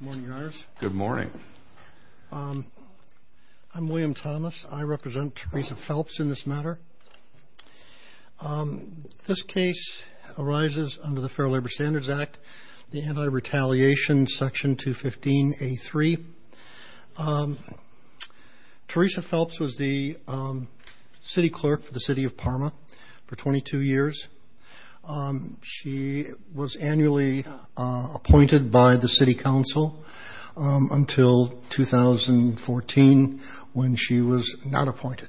Good morning, Your Honors. Good morning. I'm William Thomas. I represent Teresa Phelps in this matter. This case arises under the Fair Labor Standards Act, the Anti-Retaliation Section 215A3. Teresa Phelps was the city clerk for the City of Parma for 22 years. She was annually appointed by the city council until 2014, when she was not appointed.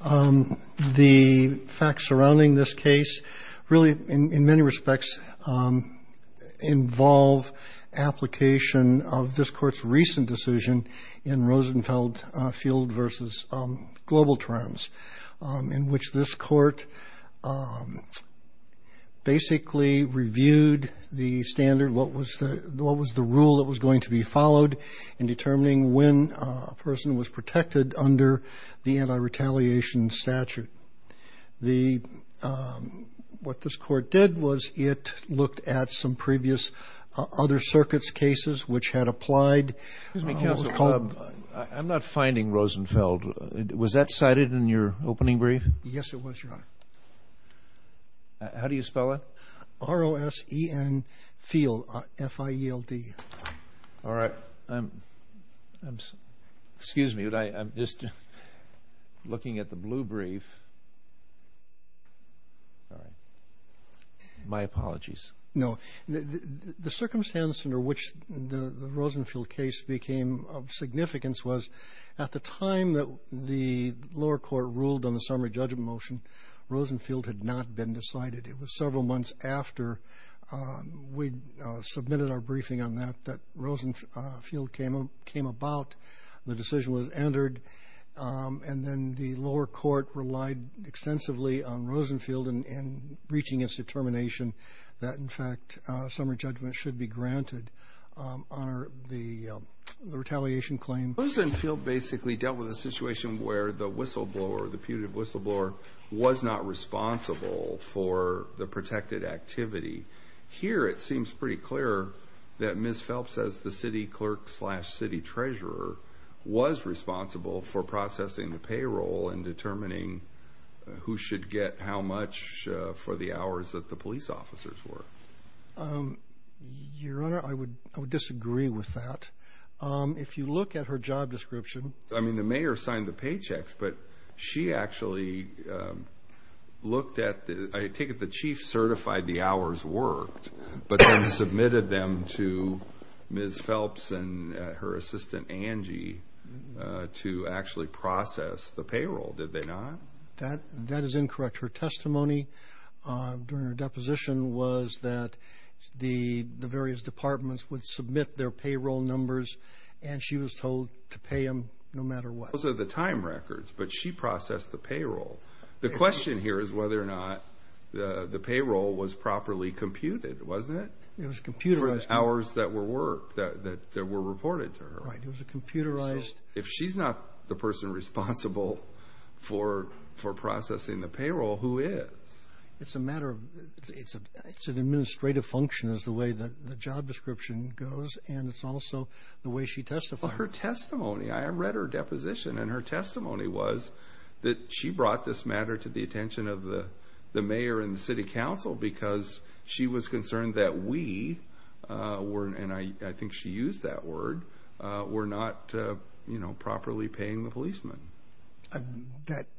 The facts surrounding this case really, in many respects, involve application of this court's recent decision in Rosenfeld Field v. Global Trans, in which this court basically reviewed the standard, what was the rule that was going to be followed in determining when a person was protected under the anti-retaliation statute. What this court did was it looked at some previous other circuits' cases which had applied Excuse me, counsel, I'm not finding Rosenfeld. Was that cited in your opening brief? Yes, it was, Your Honor. How do you spell it? R-O-S-E-N Field, F-I-E-L-D. All right. Excuse me, I'm just looking at the blue brief. My apologies. No. The circumstance under which the Rosenfeld case became of significance was at the time that the lower court ruled on the summary judgment motion, Rosenfeld had not been decided. It was several months after we submitted our briefing on that that Rosenfeld Field came about, the decision was entered, and then the lower court relied extensively on Rosenfeld in reaching its determination that, in fact, summary judgment should be granted on the retaliation claim. Rosenfeld basically dealt with a situation where the whistleblower, the putative whistleblower, was not responsible for the protected activity. Here it seems pretty clear that Ms. Phelps, as the city clerk slash city treasurer, was responsible for processing the payroll and determining who should get how much for the hours that the police officers were. Your Honor, I would disagree with that. If you look at her job description. I mean, the mayor signed the paychecks, but she actually looked at the – to actually process the payroll, did they not? That is incorrect. Her testimony during her deposition was that the various departments would submit their payroll numbers and she was told to pay them no matter what. Those are the time records, but she processed the payroll. The question here is whether or not the payroll was properly computed, wasn't it? For the hours that were reported to her. Right, it was computerized. If she's not the person responsible for processing the payroll, who is? It's a matter of – it's an administrative function is the way that the job description goes, and it's also the way she testified. Her testimony – I read her deposition, and her testimony was that she brought this matter to the attention of the mayor and the city council because she was concerned that we – and I think she used that word – were not properly paying the policemen.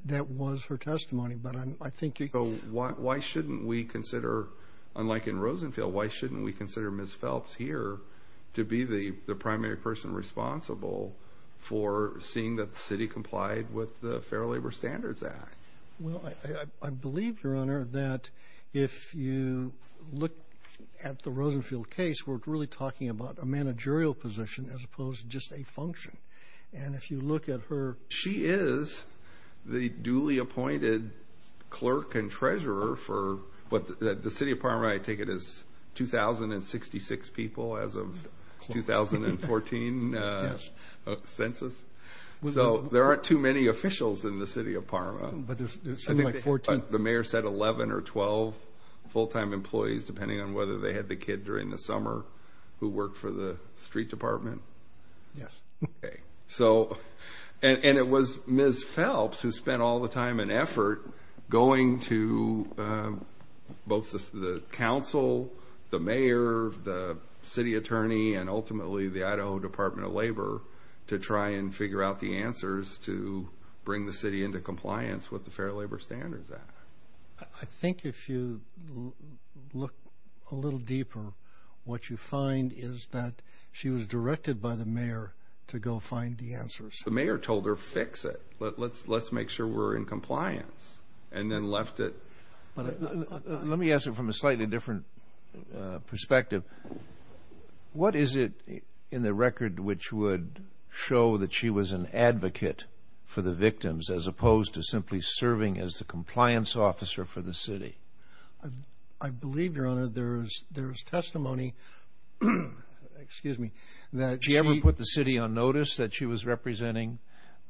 That was her testimony, but I think – Why shouldn't we consider, unlike in Rosenfield, why shouldn't we consider Ms. Phelps here to be the primary person responsible for seeing that the city complied with the Fair Labor Standards Act? Well, I believe, Your Honor, that if you look at the Rosenfield case, we're really talking about a managerial position as opposed to just a function. And if you look at her – She is the duly appointed clerk and treasurer for what – the city of Parma, I take it, is 2,066 people as of 2014 census. So there aren't too many officials in the city of Parma. But there's something like 14 – I think the mayor said 11 or 12 full-time employees, depending on whether they had the kid during the summer who worked for the street department. Yes. Okay. So – and it was Ms. Phelps who spent all the time and effort going to both the council, the mayor, the city attorney, and ultimately the Idaho Department of Labor to try and figure out the answers to bring the city into compliance with the Fair Labor Standards Act. I think if you look a little deeper, what you find is that she was directed by the mayor to go find the answers. The mayor told her, fix it. Let's make sure we're in compliance. And then left it – Let me ask you from a slightly different perspective. What is it in the record which would show that she was an advocate for the victims as opposed to simply serving as the compliance officer for the city? I believe, Your Honor, there is testimony – excuse me – that she – Did she ever put the city on notice that she was representing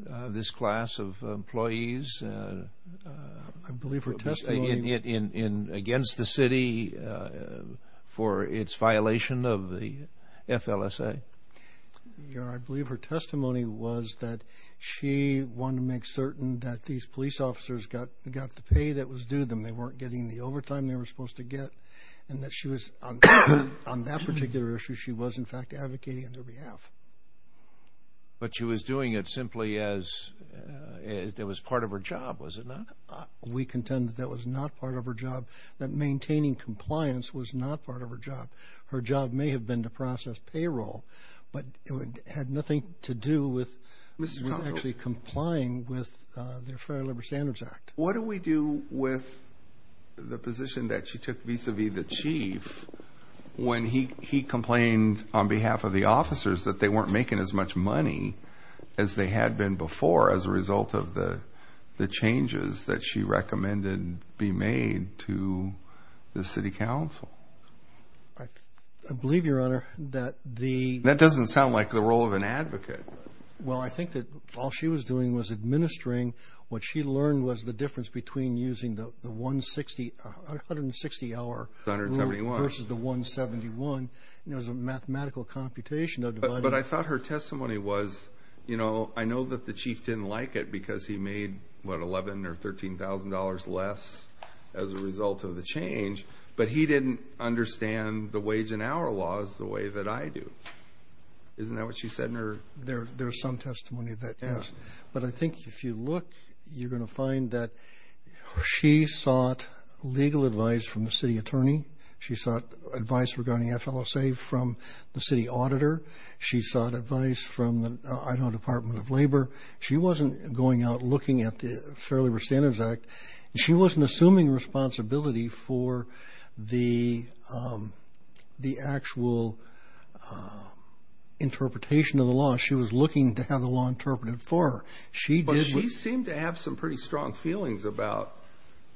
this class of employees? I believe her testimony – Against the city for its violation of the FLSA? Your Honor, I believe her testimony was that she wanted to make certain that these police officers got the pay that was due to them. They weren't getting the overtime they were supposed to get. And that she was – on that particular issue, she was, in fact, advocating on their behalf. But she was doing it simply as it was part of her job, was it not? We contend that that was not part of her job, that maintaining compliance was not part of her job. Her job may have been to process payroll, but it had nothing to do with actually complying with the Fair Labor Standards Act. What do we do with the position that she took vis-à-vis the chief when he complained on behalf of the officers that they weren't making as much money as they had been before as a result of the changes that she recommended be made to the city council? I believe, Your Honor, that the – That doesn't sound like the role of an advocate. Well, I think that all she was doing was administering. What she learned was the difference between using the 160-hour rule versus the 171. It was a mathematical computation of dividing. But I thought her testimony was, you know, I know that the chief didn't like it because he made, what, $11,000 or $13,000 less as a result of the change, but he didn't understand the wage and hour laws the way that I do. Isn't that what she said in her – There is some testimony of that case. But I think if you look, you're going to find that she sought legal advice from the city attorney. She sought advice regarding FLSA from the city auditor. She sought advice from the Idaho Department of Labor. She wasn't going out looking at the Fair Labor Standards Act. She wasn't assuming responsibility for the actual interpretation of the law. She was looking to have the law interpreted for her. But she seemed to have some pretty strong feelings about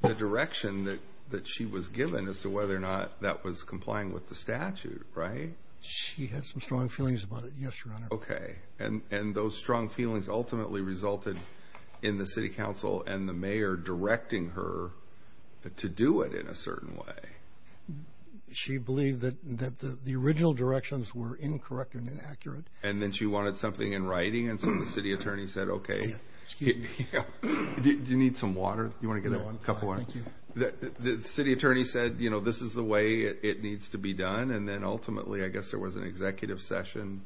the direction that she was given as to whether or not that was complying with the statute, right? She had some strong feelings about it, yes, Your Honor. Okay. And those strong feelings ultimately resulted in the city council and the mayor directing her to do it in a certain way. She believed that the original directions were incorrect and inaccurate. And then she wanted something in writing, and so the city attorney said, okay, do you need some water? Do you want to get a cup of water? Thank you. The city attorney said, you know, this is the way it needs to be done, and then ultimately I guess there was an executive session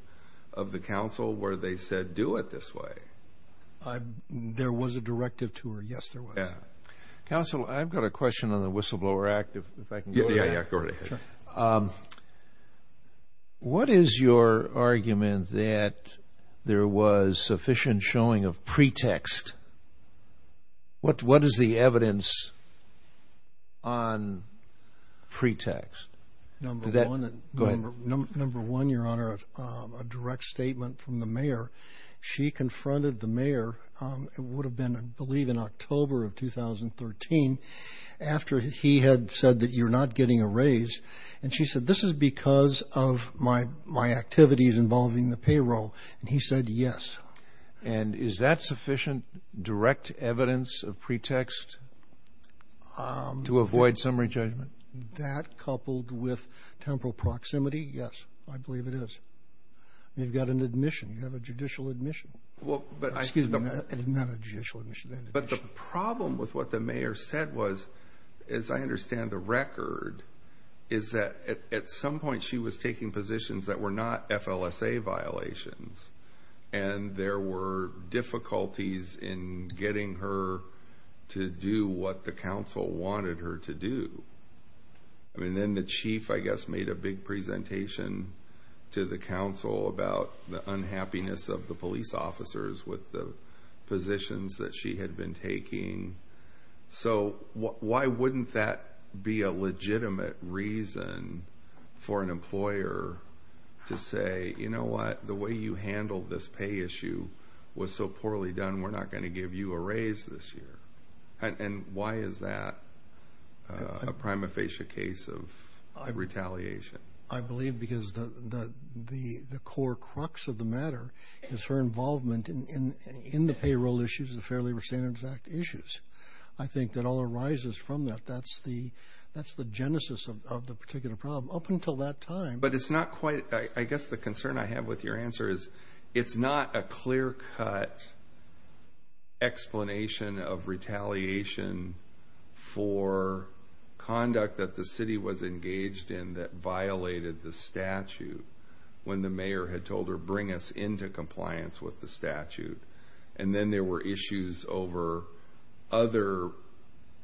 of the council where they said do it this way. There was a directive to her, yes, there was. Counsel, I've got a question on the Whistleblower Act, if I can go to that. Yeah, go right ahead. What is your argument that there was sufficient showing of pretext? What is the evidence on pretext? Go ahead. Number one, Your Honor, a direct statement from the mayor. She confronted the mayor, it would have been I believe in October of 2013, after he had said that you're not getting a raise, and she said this is because of my activities involving the payroll, and he said yes. And is that sufficient direct evidence of pretext to avoid summary judgment? Is that coupled with temporal proximity? Yes, I believe it is. You've got an admission, you have a judicial admission. Excuse me, not a judicial admission. But the problem with what the mayor said was, as I understand the record, is that at some point she was taking positions that were not FLSA violations, and there were difficulties in getting her to do what the council wanted her to do. And then the chief, I guess, made a big presentation to the council about the unhappiness of the police officers with the positions that she had been taking. So why wouldn't that be a legitimate reason for an employer to say, you know what, the way you handled this pay issue was so poorly done, we're not going to give you a raise this year. And why is that a prima facie case of retaliation? I believe because the core crux of the matter is her involvement in the payroll issues, the Fair Labor Standards Act issues. I think that all arises from that. That's the genesis of the particular problem. Up until that time. But it's not quite, I guess the concern I have with your answer is, it's not a clear-cut explanation of retaliation for conduct that the city was engaged in that violated the statute when the mayor had told her, bring us into compliance with the statute. And then there were issues over other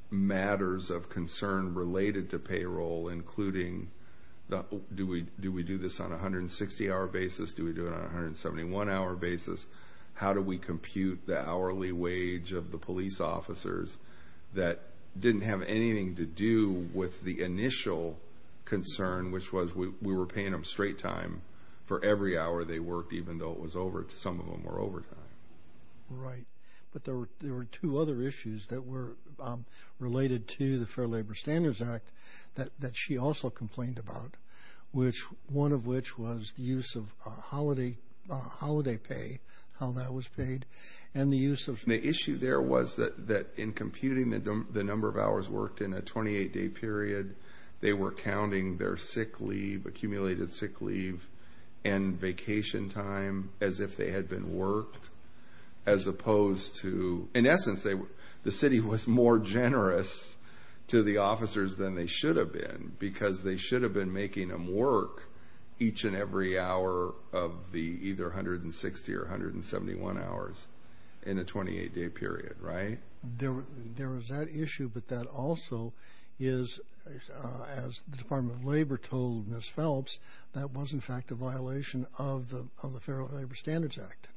matters of concern related to payroll, including do we do this on a 160-hour basis, do we do it on a 171-hour basis, how do we compute the hourly wage of the police officers that didn't have anything to do with the initial concern, which was we were paying them straight time for every hour they worked, even though some of them were overtime. Right. But there were two other issues that were related to the Fair Labor Standards Act that she also complained about, one of which was the use of holiday pay, how that was paid, and the use of... The issue there was that in computing the number of hours worked in a 28-day period, they were counting their sick leave, accumulated sick leave, and vacation time as if they had been worked as opposed to... The city was more generous to the officers than they should have been because they should have been making them work each and every hour of the either 160 or 171 hours in a 28-day period, right? There was that issue, but that also is, as the Department of Labor told Ms. Phelps, that was, in fact, a violation of the Fair Labor Standards Act.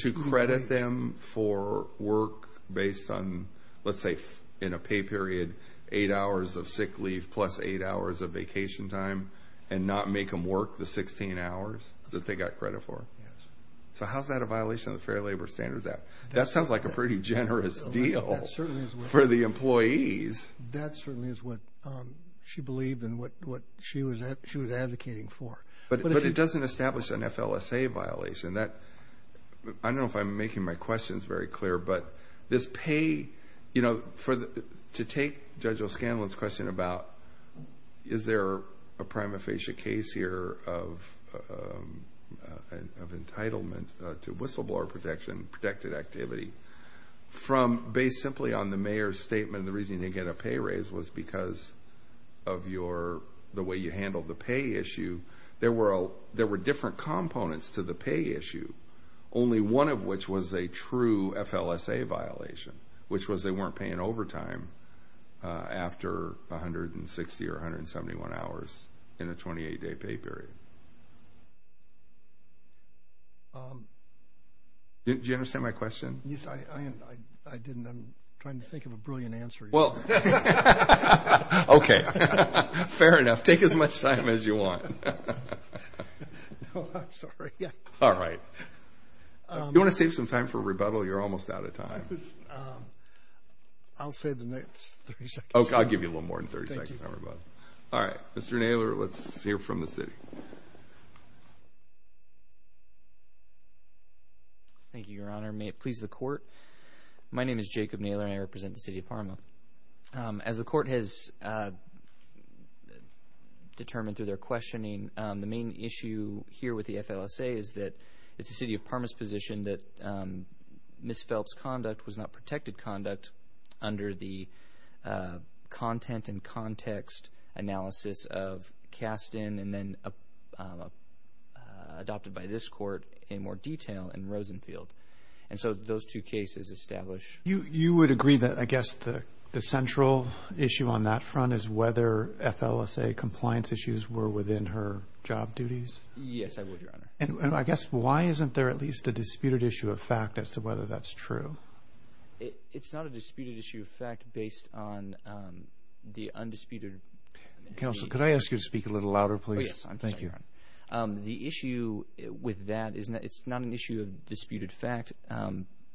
To credit them for work based on, let's say, in a pay period, eight hours of sick leave plus eight hours of vacation time and not make them work the 16 hours that they got credit for? Yes. So how is that a violation of the Fair Labor Standards Act? That sounds like a pretty generous deal for the employees. That certainly is what she believed and what she was advocating for. But it doesn't establish an FLSA violation. I don't know if I'm making my questions very clear, but this pay, you know, to take Judge O'Scanlan's question about is there a prima facie case here of entitlement to whistleblower protection, protected activity, from based simply on the mayor's statement, and the reason you didn't get a pay raise was because of the way you handled the pay issue. There were different components to the pay issue, only one of which was a true FLSA violation, which was they weren't paying overtime after 160 or 171 hours in a 28-day pay period. Did you understand my question? Yes, I didn't. I'm trying to think of a brilliant answer here. Okay. Fair enough. Take as much time as you want. No, I'm sorry. All right. You want to save some time for rebuttal? You're almost out of time. I'll save the next 30 seconds. I'll give you a little more than 30 seconds on rebuttal. All right. Mr. Naylor, let's hear from the city. Thank you, Your Honor. May it please the Court. My name is Jacob Naylor, and I represent the city of Parma. As the Court has determined through their questioning, the main issue here with the FLSA is that it's the city of Parma's position that Ms. Phelps' conduct was not protected conduct under the content and context analysis of Kasten and then adopted by this Court in more detail in Rosenfield. And so those two cases establish. You would agree that, I guess, the central issue on that front is whether FLSA compliance issues were within her job duties? Yes, I would, Your Honor. And I guess why isn't there at least a disputed issue of fact as to whether that's true? It's not a disputed issue of fact based on the undisputed. Counsel, could I ask you to speak a little louder, please? Oh, yes. I'm sorry, Your Honor. The issue with that is it's not an issue of disputed fact,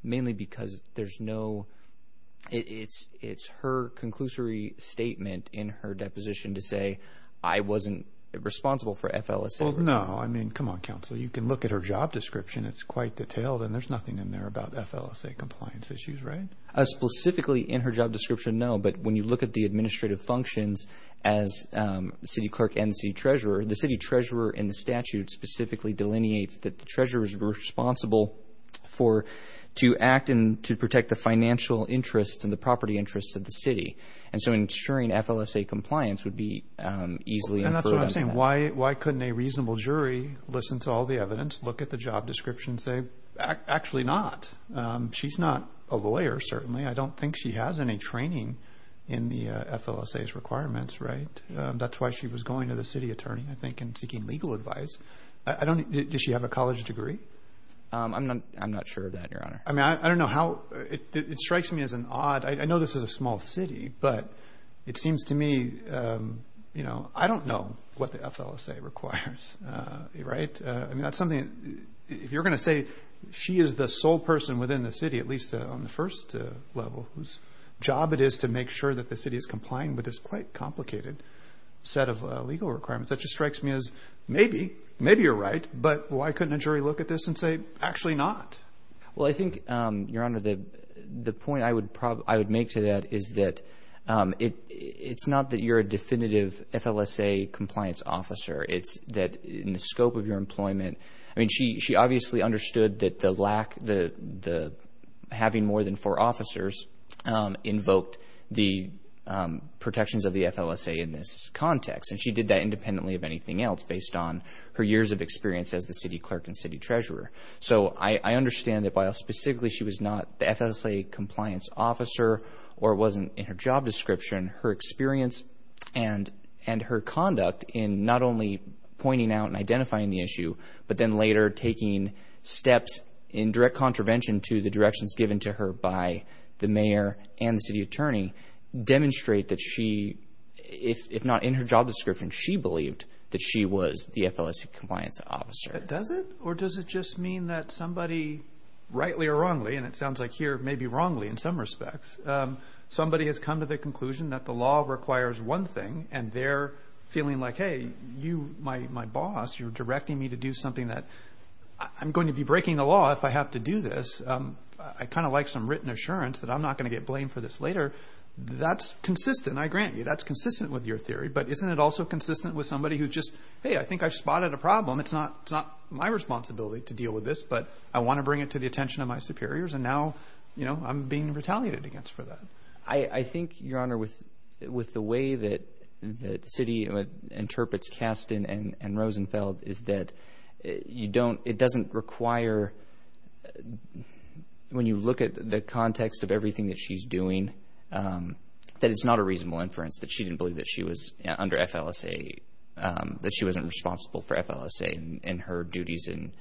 mainly because there's no – it's her conclusory statement in her deposition to say I wasn't responsible for FLSA. Well, no. I mean, come on, Counsel. You can look at her job description. It's quite detailed, and there's nothing in there about FLSA compliance issues, right? Specifically in her job description, no. But when you look at the administrative functions as city clerk and the city treasurer, the city treasurer in the statute specifically delineates that the treasurer is responsible to act and to protect the financial interests and the property interests of the city. And so ensuring FLSA compliance would be easily inferred under that. And that's what I'm saying. Why couldn't a reasonable jury listen to all the evidence, look at the job description, and say actually not? She's not a lawyer, certainly. I don't think she has any training in the FLSA's requirements, right? That's why she was going to the city attorney, I think, and seeking legal advice. Does she have a college degree? I'm not sure of that, Your Honor. I mean, I don't know how – it strikes me as an odd – I know this is a small city, but it seems to me, you know, I don't know what the FLSA requires, right? I mean, that's something – if you're going to say she is the sole person within the city, at least on the first level, whose job it is to make sure that the city is complying with this quite complicated set of legal requirements, that just strikes me as maybe, maybe you're right, but why couldn't a jury look at this and say actually not? Well, I think, Your Honor, the point I would make to that is that it's not that you're a definitive FLSA compliance officer. It's that in the scope of your employment – I mean, she obviously understood that the lack – having more than four officers invoked the protections of the FLSA in this context, and she did that independently of anything else based on her years of experience as the city clerk and city treasurer. So I understand that while specifically she was not the FLSA compliance officer or wasn't in her job description, her experience and her conduct in not only pointing out and identifying the issue, but then later taking steps in direct contravention to the directions given to her by the mayor and the city attorney, demonstrate that she – if not in her job description, she believed that she was the FLSA compliance officer. Does it? Or does it just mean that somebody, rightly or wrongly, and it sounds like here maybe wrongly in some respects, somebody has come to the conclusion that the law requires one thing, and they're feeling like, hey, you, my boss, you're directing me to do something that – I'm going to be breaking the law if I have to do this. I kind of like some written assurance that I'm not going to get blamed for this later. That's consistent, I grant you. That's consistent with your theory. But isn't it also consistent with somebody who just, hey, I think I've spotted a problem. It's not my responsibility to deal with this, but I want to bring it to the attention of my superiors, and now I'm being retaliated against for that. I think, Your Honor, with the way that the city interprets Kasten and Rosenfeld is that you don't – it doesn't require – when you look at the context of everything that she's doing, that it's not a reasonable inference that she didn't believe that she was under FLSA, that she wasn't responsible for FLSA in her duties in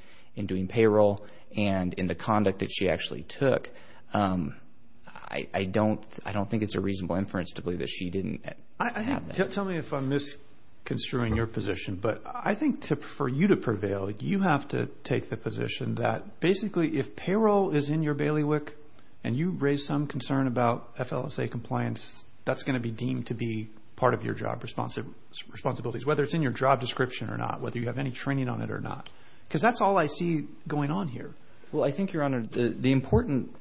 doing payroll, and in the conduct that she actually took. I don't think it's a reasonable inference to believe that she didn't have that. Tell me if I'm misconstruing your position, but I think for you to prevail, you have to take the position that basically if payroll is in your bailiwick and you raise some concern about FLSA compliance, that's going to be deemed to be part of your job responsibilities, whether it's in your job description or not, whether you have any training on it or not, because that's all I see going on here. Well, I think, Your Honor, the important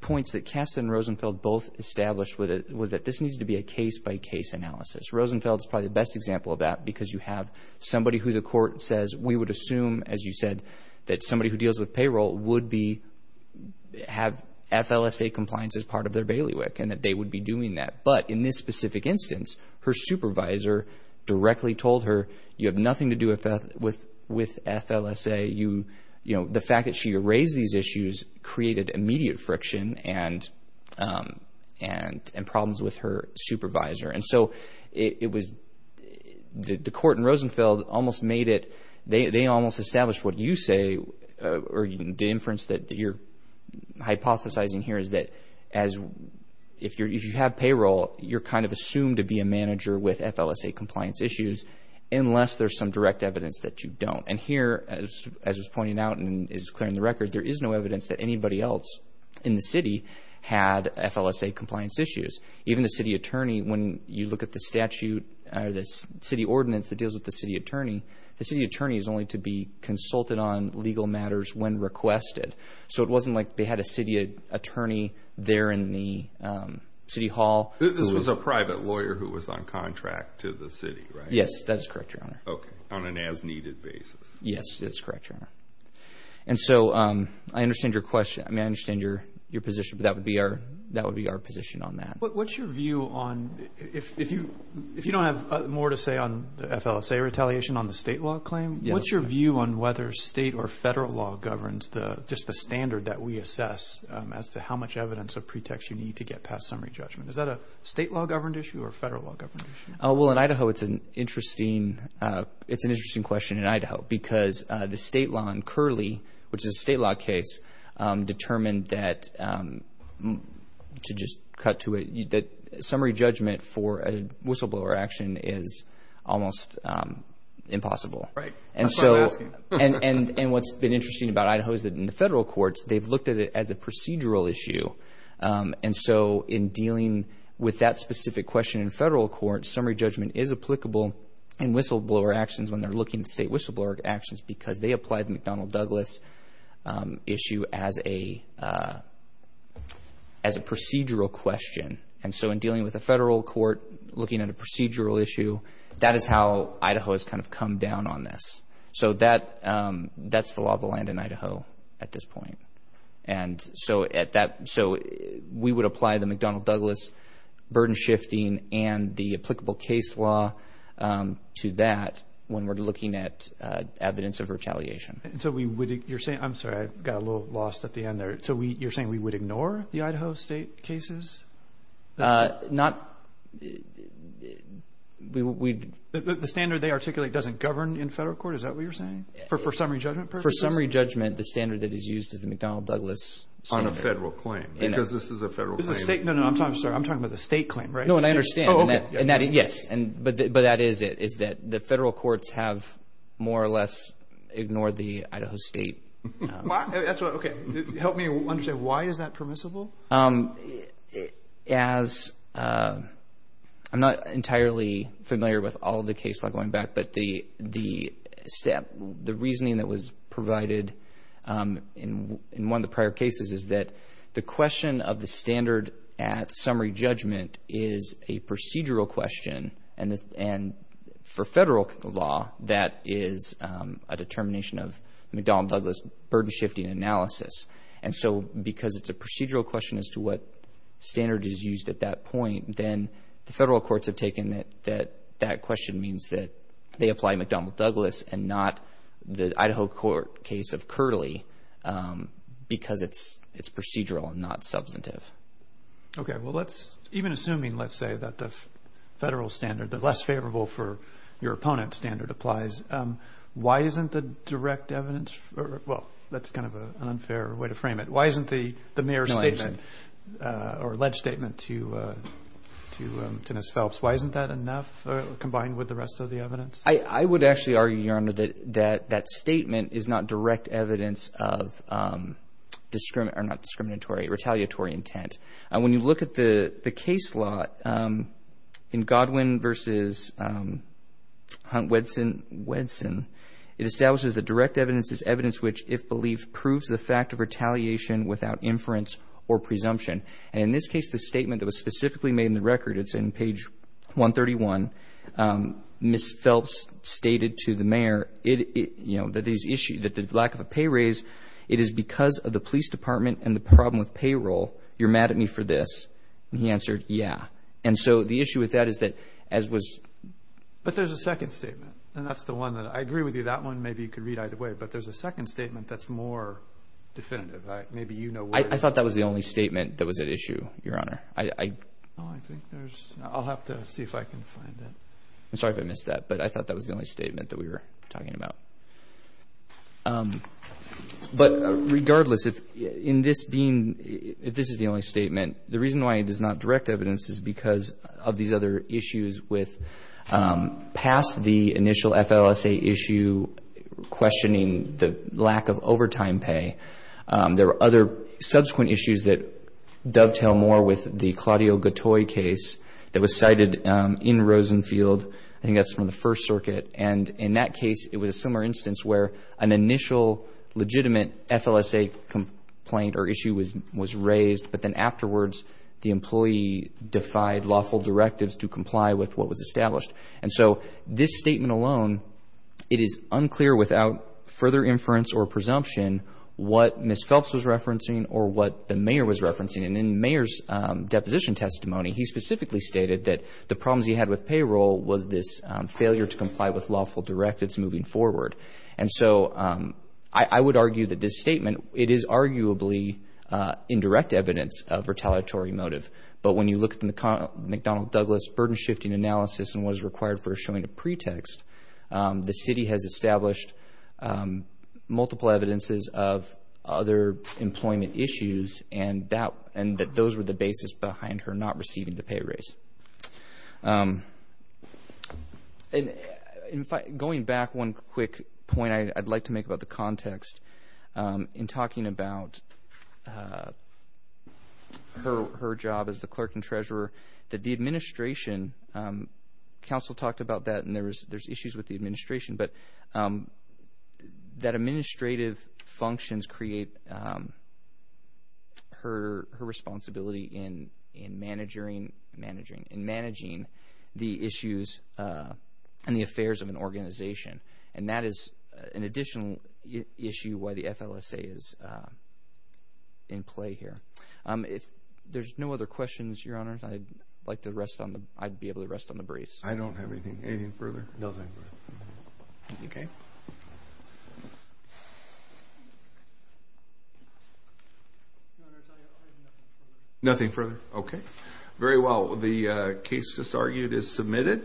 points that Kasten and Rosenfeld both established was that this needs to be a case-by-case analysis. Rosenfeld is probably the best example of that because you have somebody who the court says we would assume, as you said, that somebody who deals with payroll would have FLSA compliance as part of their bailiwick and that they would be doing that. But in this specific instance, her supervisor directly told her, you have nothing to do with FLSA. The fact that she raised these issues created immediate friction and problems with her supervisor. And so it was the court and Rosenfeld almost made it, they almost established what you say or the inference that you're hypothesizing here is that if you have payroll, you're kind of assumed to be a manager with FLSA compliance issues unless there's some direct evidence that you don't. And here, as was pointed out and is clear in the record, there is no evidence that anybody else in the city had FLSA compliance issues. Even the city attorney, when you look at the statute or the city ordinance that deals with the city attorney, the city attorney is only to be consulted on legal matters when requested. So it wasn't like they had a city attorney there in the city hall. This was a private lawyer who was on contract to the city, right? Yes, that's correct, Your Honor. Okay, on an as-needed basis. Yes, that's correct, Your Honor. And so I understand your question. I mean, I understand your position, but that would be our position on that. What's your view on, if you don't have more to say on the FLSA retaliation on the state law claim, what's your view on whether state or federal law governs just the standard that we assess as to how much evidence or pretext you need to get past summary judgment? Is that a state law governed issue or a federal law governed issue? Well, in Idaho, it's an interesting question in Idaho because the state law in Curley, which is a state law case, determined that, to just cut to it, that summary judgment for a whistleblower action is almost impossible. Right. That's why I'm asking. And what's been interesting about Idaho is that in the federal courts, they've looked at it as a procedural issue. And so in dealing with that specific question in federal courts, summary judgment is applicable in whistleblower actions when they're looking at state whistleblower actions because they applied the McDonnell-Douglas issue as a procedural question. And so in dealing with a federal court looking at a procedural issue, that is how Idaho has kind of come down on this. So that's the law of the land in Idaho at this point. And so we would apply the McDonnell-Douglas burden shifting and the applicable case law to that when we're looking at evidence of retaliation. And so you're saying we would ignore the Idaho state cases? Not. The standard they articulate doesn't govern in federal court? Is that what you're saying? For summary judgment purposes? For summary judgment, the standard that is used is the McDonnell-Douglas standard. On a federal claim, because this is a federal claim. No, no, I'm sorry. I'm talking about the state claim, right? No, and I understand. Yes. But that is it, is that the federal courts have more or less ignored the Idaho state. Okay, help me understand. Why is that permissible? As I'm not entirely familiar with all the case law going back, but the reasoning that was provided in one of the prior cases is that the question of the standard at summary judgment is a procedural question. And for federal law, that is a determination of McDonnell-Douglas burden-shifting analysis. And so because it's a procedural question as to what standard is used at that point, then the federal courts have taken that that question means that they apply McDonnell-Douglas and not the Idaho court case of Curley because it's procedural and not substantive. Okay. Well, even assuming, let's say, that the federal standard, the less favorable for your opponent standard applies, why isn't the direct evidence? Well, that's kind of an unfair way to frame it. Why isn't the mayor's statement or ledge statement to Ms. Phelps, why isn't that enough combined with the rest of the evidence? I would actually argue, Your Honor, that that statement is not direct evidence of retaliatory intent. When you look at the case law in Godwin v. Hunt-Wedson, it establishes that direct evidence is evidence which, if believed, proves the fact of retaliation without inference or presumption. And in this case, the statement that was specifically made in the record, it's in page 131, Ms. Phelps stated to the mayor that the lack of a pay raise, it is because of the police department and the problem with payroll. You're mad at me for this. And he answered, yeah. And so the issue with that is that as was. But there's a second statement, and that's the one that I agree with you. That one maybe you could read either way. But there's a second statement that's more definitive. Maybe you know where it is. I thought that was the only statement that was at issue, Your Honor. No, I think there's not. I'll have to see if I can find it. I'm sorry if I missed that, but I thought that was the only statement that we were talking about. But regardless, if this is the only statement, the reason why it is not direct evidence is because of these other issues with past the initial FLSA issue questioning the lack of overtime pay. There were other subsequent issues that dovetail more with the Claudio Gattoi case that was cited in Rosenfield. I think that's from the First Circuit. And in that case, it was a similar instance where an initial legitimate FLSA complaint or issue was raised, but then afterwards the employee defied lawful directives to comply with what was established. And so this statement alone, it is unclear without further inference or presumption what Ms. Phelps was referencing or what the mayor was referencing. And in the mayor's deposition testimony, he specifically stated that the problems he had with payroll was this failure to comply with lawful directives moving forward. And so I would argue that this statement, it is arguably indirect evidence of retaliatory motive. But when you look at the McDonnell Douglas burden-shifting analysis and what is required for showing a pretext, the city has established multiple evidences of other employment issues and that those were the basis behind her not receiving the pay raise. Going back one quick point I'd like to make about the context, in talking about her job as the clerk and treasurer, that the administration, counsel talked about that and there's issues with the administration, but that administrative functions create her responsibility in managing the issues and the affairs of an organization. And that is an additional issue why the FLSA is in play here. If there's no other questions, Your Honors, I'd like to rest on the briefs. I don't have anything. Anything further? Nothing further. Okay. Nothing further. Okay. Very well. The case just argued is submitted.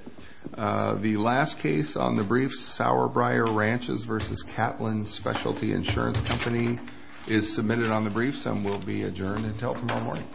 The last case on the briefs, Sauerbrier Ranchers v. Catlin Specialty Insurance Company, is submitted on the briefs and will be adjourned until tomorrow morning.